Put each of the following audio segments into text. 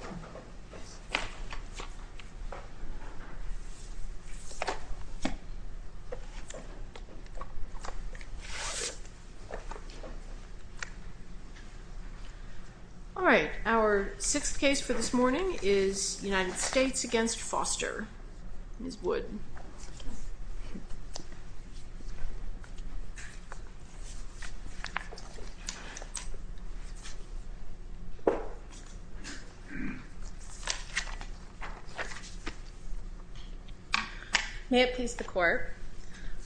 All right, our sixth case for this morning is United States v. Foster. Ms. Wood. May it please the court,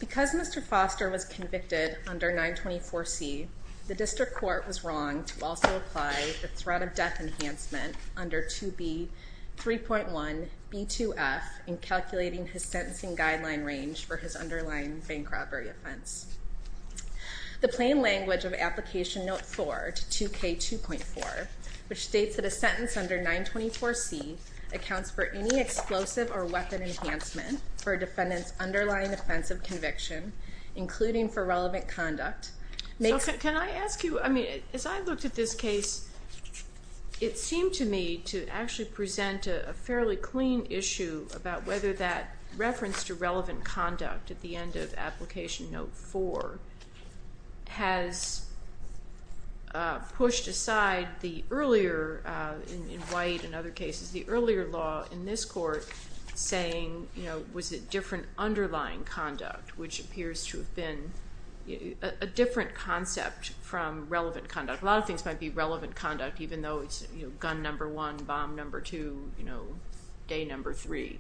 because Mr. Foster was convicted under 924C, the district court was wrong to also apply the threat of death enhancement under 2B 3.1 B2F in calculating his sentencing guideline range for his underlying bank robbery offense. The plain language of application note 4 to 2K 2.4, which states that a sentence under 924C accounts for any explosive or weapon enhancement for a defendant's underlying offense of conviction, including for relevant conduct, makes- Can I ask you, as I looked at this case, it seemed to me to actually present a fairly clean issue about whether that reference to relevant conduct at the end of application note 4 has pushed aside the earlier, in White and other cases, the earlier law in this court saying was it different underlying conduct, which appears to have been a different concept from relevant conduct. A lot of things might be relevant conduct, even though it's gun number one, bomb number two, you know, day number three.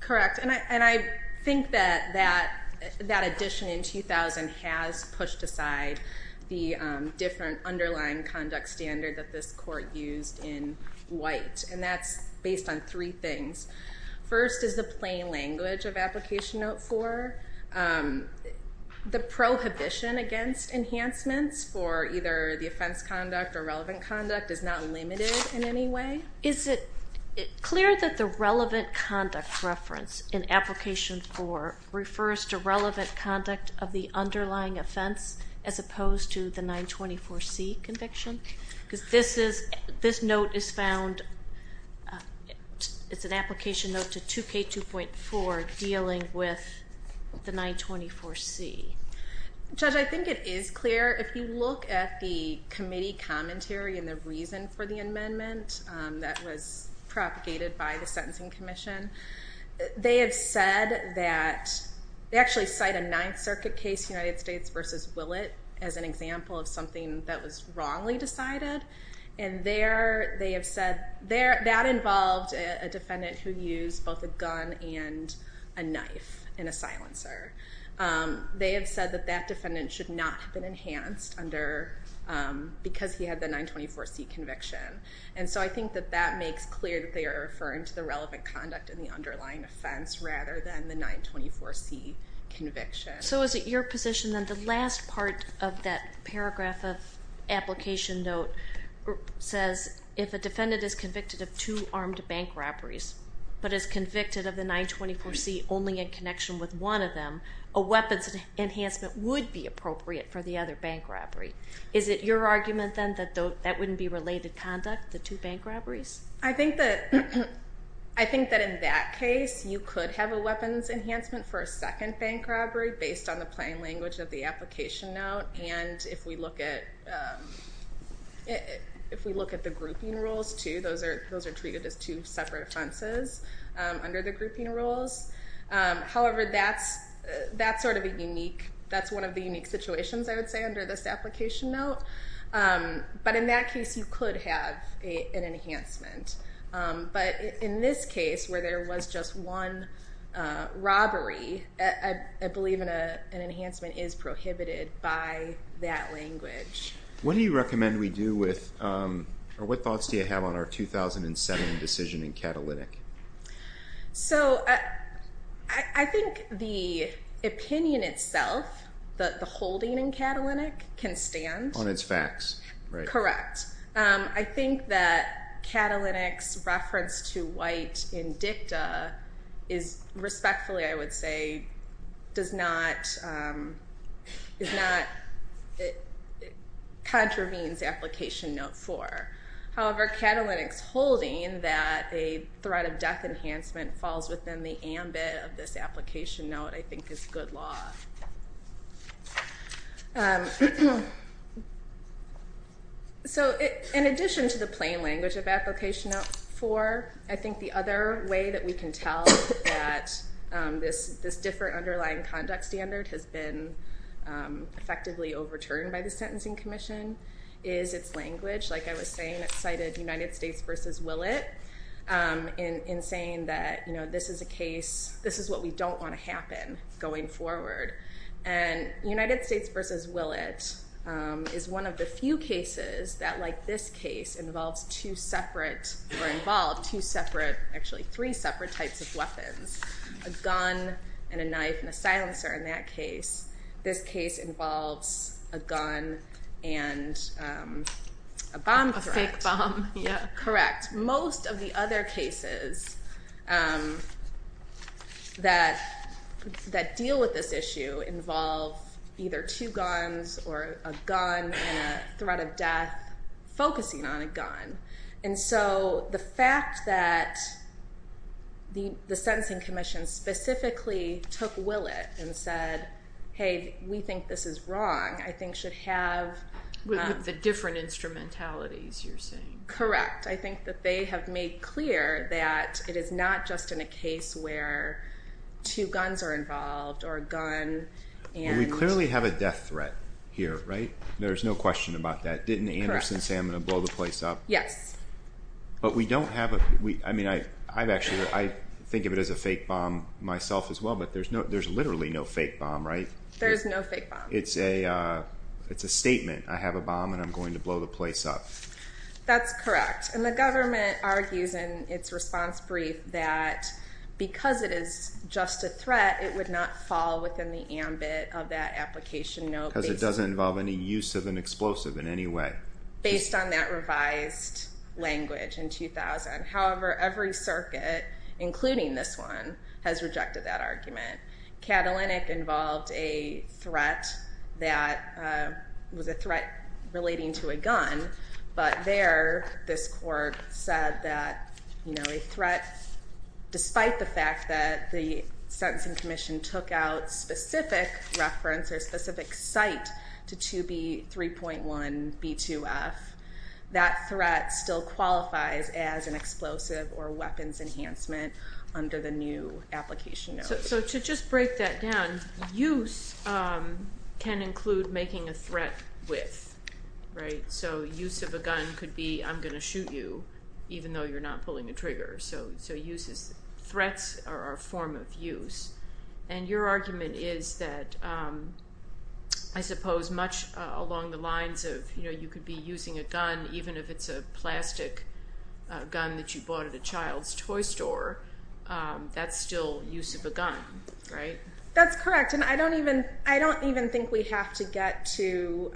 Correct. And I think that that addition in 2000 has pushed aside the different underlying conduct standard that this court used in White. And that's based on three things. First is the plain language of application note 4. The prohibition against enhancements for either the offense conduct or relevant conduct is not limited in any way. Is it clear that the relevant conduct reference in application 4 refers to relevant conduct of the underlying offense as opposed to the 924C conviction? Because this is, this note is found, it's an application note to 2K 2.4 dealing with the 924C. Judge, I think it is clear. If you look at the committee commentary and the reason for the amendment that was propagated by the Sentencing Commission, they have said that, they actually cite a Ninth Circuit case, United States v. Willett, as an example of something that was wrongly decided. And there, they have said, that involved a defendant who used both a And they have said that that defendant should not have been enhanced under, because he had the 924C conviction. And so I think that that makes clear that they are referring to the relevant conduct in the underlying offense rather than the 924C conviction. So is it your position that the last part of that paragraph of application note says if a defendant is convicted of two armed bank robberies, but is convicted of the 924C only in connection with one of them, a weapons enhancement would be appropriate for the other bank robbery? Is it your argument then that that wouldn't be related conduct, the two bank robberies? I think that, I think that in that case, you could have a weapons enhancement for a second bank robbery based on the plain language of the application note. And if we look at, if we look at the grouping rules too, those are treated as two separate offenses under the However, that's, that's sort of a unique, that's one of the unique situations I would say under this application note. But in that case, you could have an enhancement. But in this case, where there was just one robbery, I believe an enhancement is prohibited by that language. What do you recommend we do with, or what thoughts do you have on our 2007 decision in Catalytic? So, I think the opinion itself, that the holding in Catalytic can stand. On its facts, right? Correct. I think that Catalytic's reference to white in dicta is respectfully, I would say, does not, is not, contravenes application note four. However, Catalytic's holding that a threat of death enhancement falls within the ambit of this application note, I think, is good law. So in addition to the plain language of application note four, I think the other way that we can tell that this, this different underlying conduct standard has been effectively overturned by the Sentencing Commission is its language. Like I was saying, it cited United States v. Willett in saying that this is a case, this is what we don't want to happen going forward. And United States v. Willett is one of the few cases that, like this case, involves two separate, or involved two separate, actually three separate types of weapons. A gun, and a knife, and a silencer in that case. This case involves a gun and a bomb threat. Correct. Most of the other cases that, that deal with this issue involve either two guns or a gun and a threat of death focusing on a gun. And so the fact that the, the Sentencing Commission specifically took Willett and said, hey, we think this is wrong, I think should have... With the different instrumentalities you're saying. Correct. I think that they have made clear that it is not just in a case where two guns are involved, or a gun, and... We clearly have a death threat here, right? There's no question about that. Didn't Anderson say I'm going to blow the place up? Yes. But we don't have a, we, I mean, I, I've actually, I think of it as a fake bomb myself as well, but there's no, there's literally no fake bomb, right? There's no fake bomb. It's a, it's a statement. I have a bomb and I'm going to blow the place up. That's correct. And the government argues in its response brief that because it is just a threat, it would not fall within the ambit of that application note. Because it doesn't involve any use of an explosive in any way. Based on that revised language in 2000. However, every circuit, including this one, has rejected that argument. Catalynic involved a threat that was a threat relating to a gun. But there, this court said that a threat, despite the fact that the Sentencing Commission took out specific reference or specific site to 2B.3.1.B.2.F., that threat still qualifies as an explosive or weapons enhancement under the new application note. So, to just break that down, use can include making a threat with, right? So, use of a gun could be, I'm going to shoot you, even though you're not pulling a trigger. So, so use is, threats are a form of use. And your argument is that I suppose much along the lines of, you know, you could be using a gun even if it's a plastic gun that you bought at a child's toy store, that's still use of a gun, right? That's correct. And I don't even, I don't even think we have to get to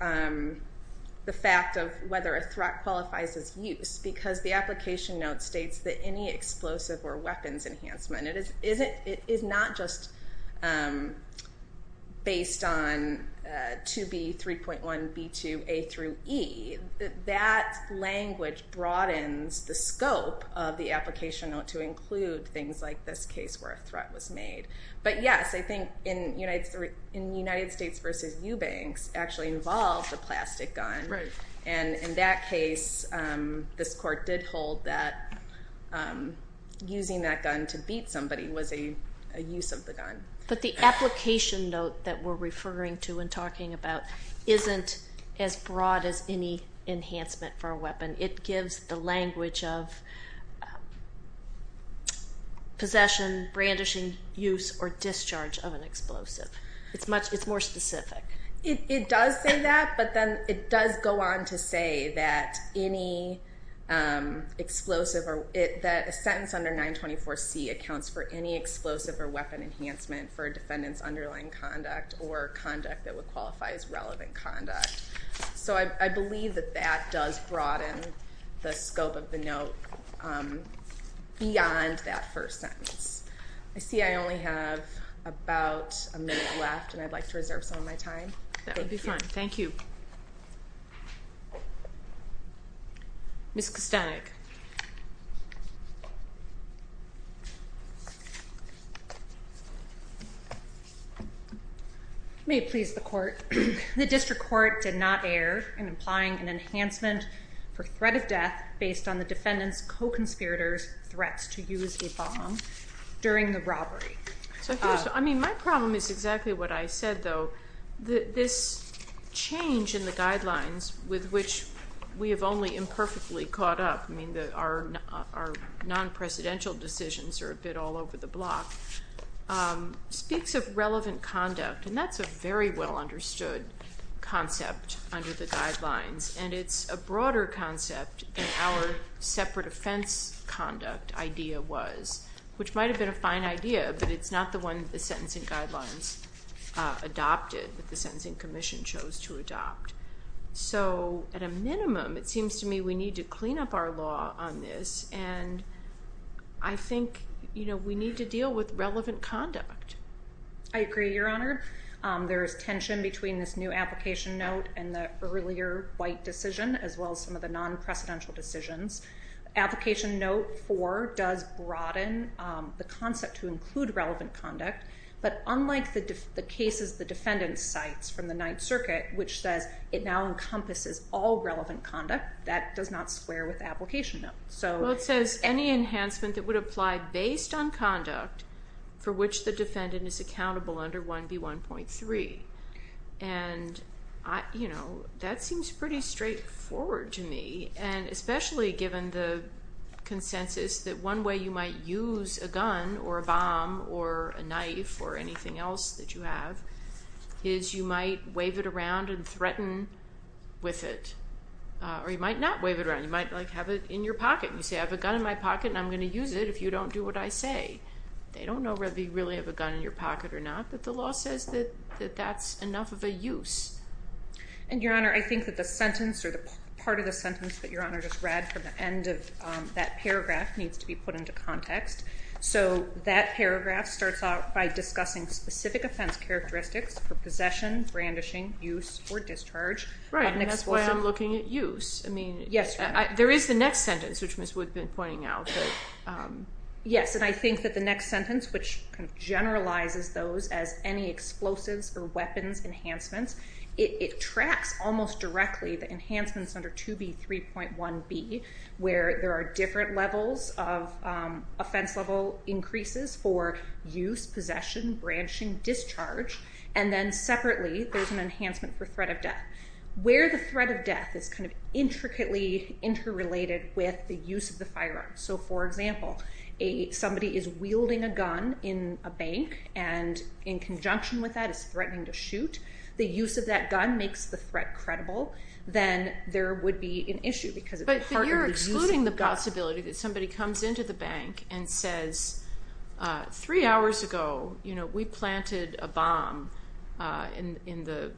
the fact of whether a threat qualifies as use. Because the application note states that any explosive or weapons through E, that language broadens the scope of the application note to include things like this case where a threat was made. But yes, I think in United States v. Eubanks actually involved a plastic gun. And in that case, this court did hold that using that gun to beat somebody was a use of the gun. But the application note that we're referring to and not as any enhancement for a weapon. It gives the language of possession, brandishing, use, or discharge of an explosive. It's much, it's more specific. It does say that, but then it does go on to say that any explosive or, that a sentence under 924C accounts for any explosive or weapon enhancement for a defendant's underlying conduct or conduct that would qualify as relevant conduct. So I believe that that does broaden the scope of the note beyond that first sentence. I see I only have about a minute left and I'd like to reserve some of my time. That would be fine. Thank you. Ms. Kostanek. May it please the court. The district court did not err in implying an enhancement for threat of death based on the defendant's co-conspirator's threats to use a bomb during the robbery. I mean, my problem is exactly what I said, though. This change in the guidelines with which we have only imperfectly caught up, I mean, our non-presidential decisions are a bit all over the block, speaks of relevant conduct and that's a very well understood concept under the guidelines. And it's a broader concept than our separate offense conduct idea was, which might have been a fine idea, but it's not the one that the sentencing guidelines adopted, that the sentencing commission chose to adopt. So at a minimum, it seems to me we need to clean up our law on this and I think, you know, we need to deal with relevant conduct. I agree, Your Honor. There is tension between this new application note and the earlier white decision as well as some of the non-presidential decisions. Application note 4 does broaden the concept to include relevant conduct, but unlike the cases the defendant cites from the Ninth Circuit, which says it now encompasses all relevant conduct, that does not square with the application note. Well, it says any enhancement that would apply based on conduct for which the defendant is accountable under 1B1.3. And, you know, that seems pretty straightforward to me and especially given the consensus that one way you might use a gun or a bomb or a knife or anything else that you have is you might wave it around and threaten with it. Or you might not wave it around. You might have it in your pocket. You say, I have a gun in my pocket and I'm going to use it if you don't do what I say. They don't know whether you really have a gun in your pocket or not, but the And, Your Honor, I think that the sentence or the part of the sentence that Your Honor just read from the end of that paragraph needs to be put into context. So that paragraph starts out by discussing specific offense characteristics for possession, brandishing, use, or discharge. Right, and that's why I'm looking at use. I mean, there is the next sentence, which Ms. Wood has been pointing out. Yes, and I think that the next sentence, which generalizes those as any explosives or weapons enhancements, it tracks almost directly the enhancements under 2B, 3.1B, where there are different levels of offense level increases for use, possession, branching, discharge. And then separately, there's an enhancement for threat of death, where the threat of death is kind of intricately interrelated with the use of the firearm. So, for example, if somebody is wielding a gun in a bank and in conjunction with that is threatening to shoot, the use of that gun makes the threat credible, then there would be an issue because it's part of the use of the gun. But you're excluding the possibility that somebody comes into the bank and says, three hours ago, you know, we planted a bomb in the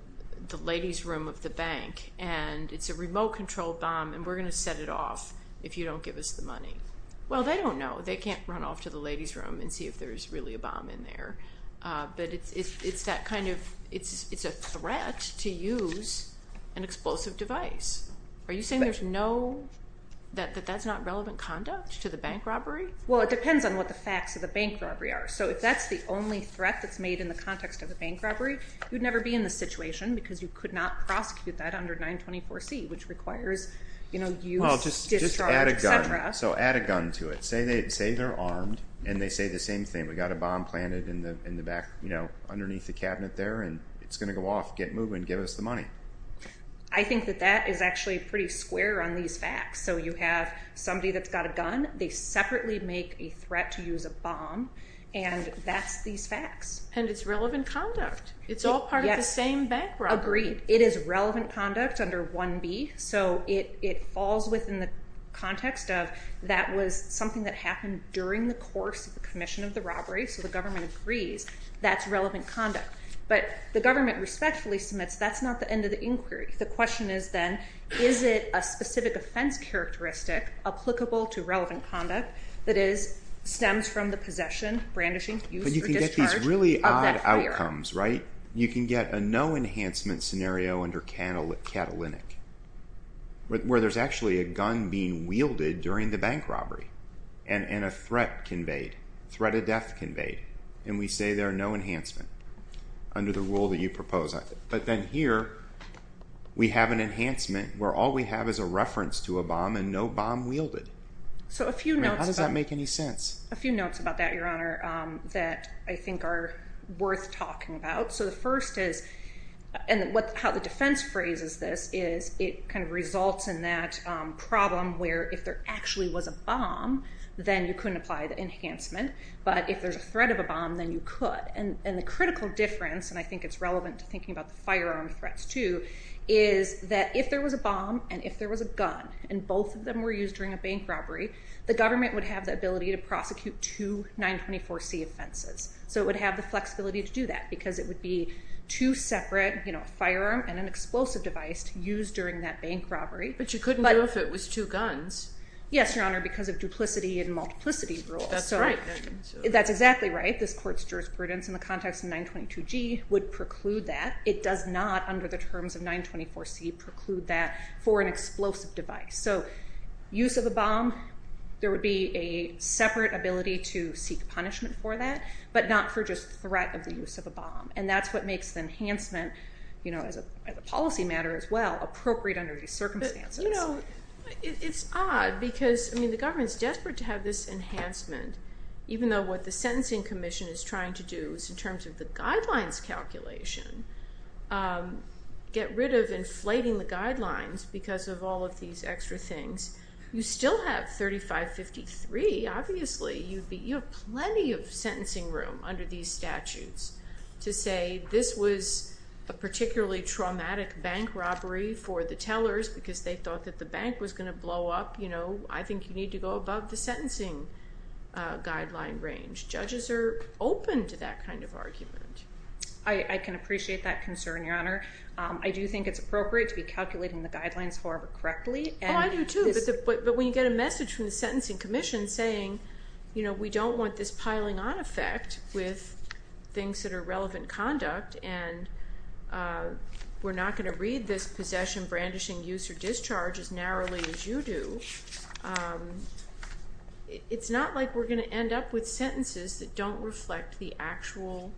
ladies' room of the bank, and it's a remote-controlled bomb, and we're going to set it off if you don't give us the money. Well, they don't know. They can't run off to the ladies' room and see if there's really a bomb in there. But it's that kind of, it's a threat to use an explosive device. Are you saying there's no, that that's not relevant conduct to the bank robbery? Well, it depends on what the facts of the bank robbery are. So, if that's the only threat that's made in the context of a bank robbery, you'd never be in the situation because you could not prosecute that under 924C, which requires, you know, use, discharge, et cetera. Well, just add a gun. So, add a gun to it. Say they're armed, and they say the same thing. We got a bomb planted in the back, you know, underneath the cabinet there, and it's going to go off, get moving, give us the money. I think that that is actually pretty square on these facts. So, you have somebody that's got a gun, they separately make a threat to use a bomb, and that's these facts. And it's relevant conduct. It's all part of the same bank robbery. Agreed. It is relevant conduct under 1B. So, it falls within the context of that was something that happened during the course of the commission of the robbery, so the government agrees that's relevant conduct. But the government respectfully submits that's not the end of the inquiry. The question is then, is it a specific offense characteristic applicable to relevant conduct that stems from the possession, brandishing, use, or discharge? But you can get these really odd outcomes, right? You can get a no-enhancement scenario under Catalytic, where there's actually a gun being wielded during the bank robbery, and a threat conveyed, threat of death conveyed, and we say there are no enhancements under the rule that you propose. But then here, we have an enhancement where all we have is a reference to a bomb, and no bomb wielded. So, a few notes. I mean, how does that make any sense? A few notes about that, Your Honor, that I think are worth talking about. So, the first is, and how the defense phrases this is, it kind of results in that problem where if there actually was a bomb, then you couldn't apply the enhancement, but if there's a threat of a bomb, then you could. And the critical difference, and I think it's relevant to thinking about the firearm threats too, is that if there was a bomb, and if there was a gun, and both of them were used during a bank robbery, the government would have the ability to prosecute two 924C offenses. So, it would have the flexibility to do that, because it would be two separate, you know, a firearm and an explosive device used during that bank robbery. But you couldn't do it if it was two guns. Yes, Your Honor, because of duplicity and multiplicity rules. That's right. That's exactly right. This Court's jurisprudence in the context of 922G would preclude that. It does not, under the terms of 924C, preclude that for an explosive device. So, use of a bomb, there would be a separate ability to seek punishment for that, but not for just threat of the use of a bomb. And that's what makes the enhancement, you know, as a policy matter as well, appropriate under these circumstances. But, you know, it's odd, because the government's desperate to have this enhancement, even though what the Sentencing Commission is trying to do is, in terms of the guidelines calculation, get rid of inflating the guidelines because of all of these extra things. You still have 3553, obviously. You have plenty of sentencing room under these statutes to say, this was a particularly traumatic bank robbery for the tellers, because they thought that the judges are open to that kind of argument. I can appreciate that concern, Your Honor. I do think it's appropriate to be calculating the guidelines, however correctly. Oh, I do too. But when you get a message from the Sentencing Commission saying, you know, we don't want this piling on effect with things that are relevant conduct, and we're not going to read this possession, brandishing, use, or discharge as narrowly as you do, it's not like we're going to end up with sentences that don't reflect the actual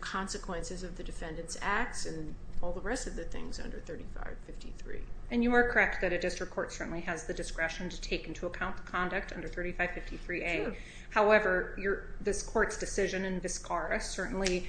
consequences of the defendant's acts and all the rest of the things under 3553. And you are correct that a district court certainly has the discretion to take into account the conduct under 3553A. However, this court's decision in Viscara certainly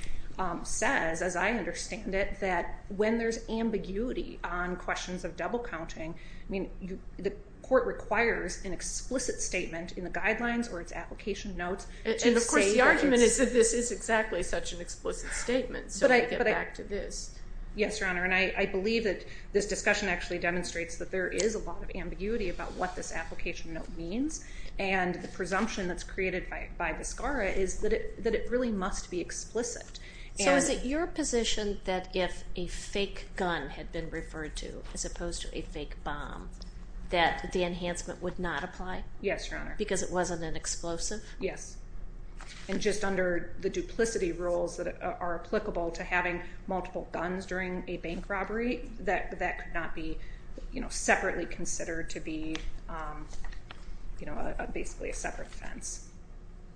says, as I understand it, that when there's ambiguity on questions of double counting, I mean, the court requires an explicit statement in the guidelines or its application notes to say that it's... And of course, the argument is that this is exactly such an explicit statement, so I get back to this. Yes, Your Honor, and I believe that this discussion actually demonstrates that there is a lot of ambiguity about what this application note means, and the presumption that's created by Viscara is that it really must be explicit. So is it your position that if a fake gun had been referred to as opposed to a fake bomb, that the enhancement would not apply? Yes, Your Honor. Because it wasn't an explosive? Yes, and just under the duplicity rules that are applicable to having multiple guns during a bank robbery, that could not be separately considered to be basically a separate offense,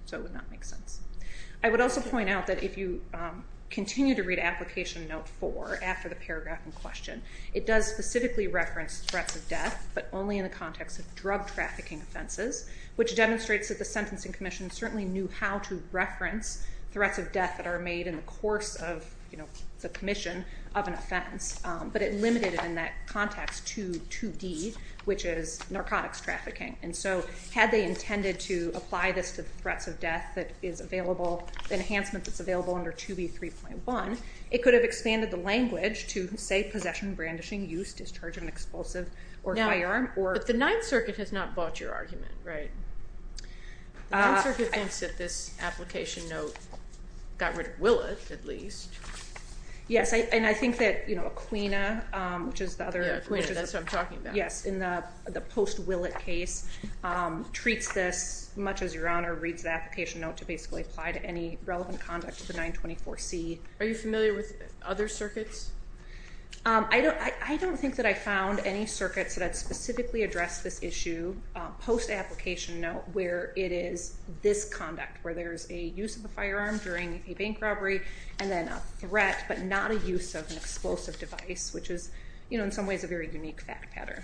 so it would not make sense. I would also point out that if you continue to read Application Note 4 after the paragraph in question, it does specifically reference threats of death, but only in the context of drug trafficking offenses, which demonstrates that the Sentencing Commission certainly knew how to reference threats of death that are made in the course of the commission of an offense, but it limited it in that context to 2D, which is narcotics trafficking. And so had they intended to apply this to the threats of death that is available, the enhancement that's available under 2B.3.1, it could have expanded the language to, say, possession, brandishing, use, discharge of an explosive, or firearm, or... Now, but the Ninth Circuit has not bought your argument, right? The Ninth Circuit thinks that this application note got rid of Willett, at least. Yes, and I think that Aquina, which is the other... Yeah, Aquina, that's what I'm talking about. Yes, in the post-Willett case, treats this much as Your Honor reads the application note to basically apply to any relevant conduct to the 924C. Are you familiar with other circuits? I don't think that I found any circuits that specifically address this issue post-application note, where it is this conduct, where there is a use of a firearm during a bank robbery, and then a threat, but not a use of an explosive device, which is, in some ways, a very unique fact pattern.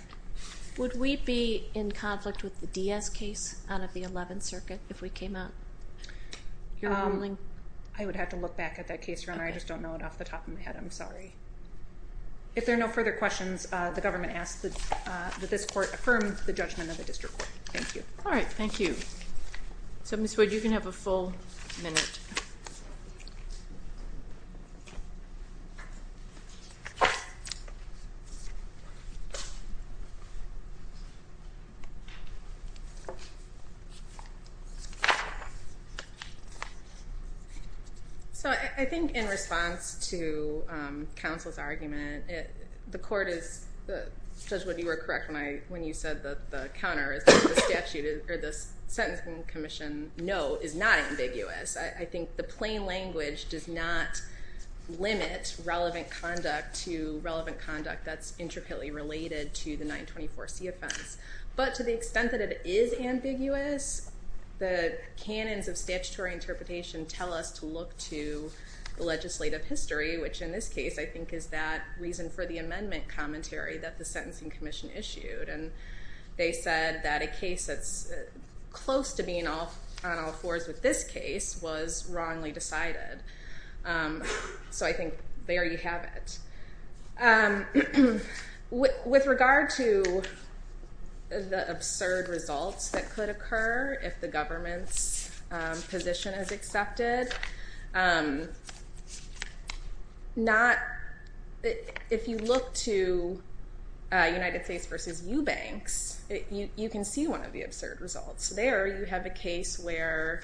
Would we be in conflict with the Diaz case out of the Eleventh Circuit if we came out? Your ruling? I would have to look back at that case, Your Honor. I just don't know it off the top of my head. I'm sorry. If there are no further questions, the government asks that this court affirm the judgment of the district court. Thank you. All right, thank you. So, Ms. Wood, you can have a full minute. So, I think in response to counsel's argument, the court is, Judge Wood, you were correct when you said that the counter is the statute, or the Sentencing Commission note is not ambiguous. I think the plain language does not limit relevant conduct to relevant conduct that's related to the 924C offense. But to the extent that it is ambiguous, the canons of statutory interpretation tell us to look to the legislative history, which in this case, I think, is that reason for the amendment commentary that the Sentencing Commission issued. And they said that a case that's close to being on all fours with this case was wrongly decided. So, I think there you have it. With regard to the absurd results that could occur if the government's position is accepted, if you look to United States versus Eubanks, you can see one of the absurd results. There, you have a case where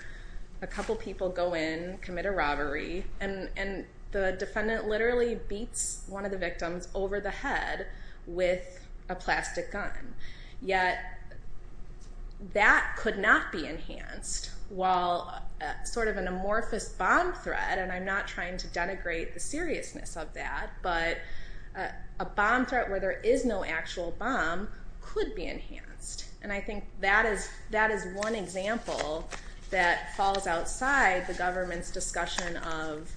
a couple people go in, commit a robbery, and the defendant literally beats one of the victims over the head with a plastic gun. Yet, that could not be enhanced while sort of an amorphous bomb threat, and I'm not trying to denigrate the seriousness of that, but a bomb threat where there is no actual bomb could be enhanced. And I think that is one example that falls outside the government's discussion of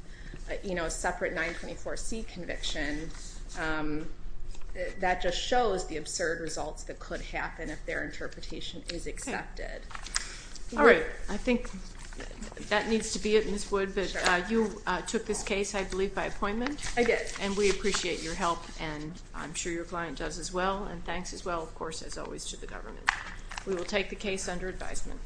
separate 924C conviction that just shows the absurd results that could happen if their interpretation is accepted. All right. I think that needs to be it, Ms. Wood, but you took this case, I believe, by appointment? I did. And we appreciate your help, and I'm sure your client does as well, and thanks as well, of course, as always, to the government. We will take the case under advisement.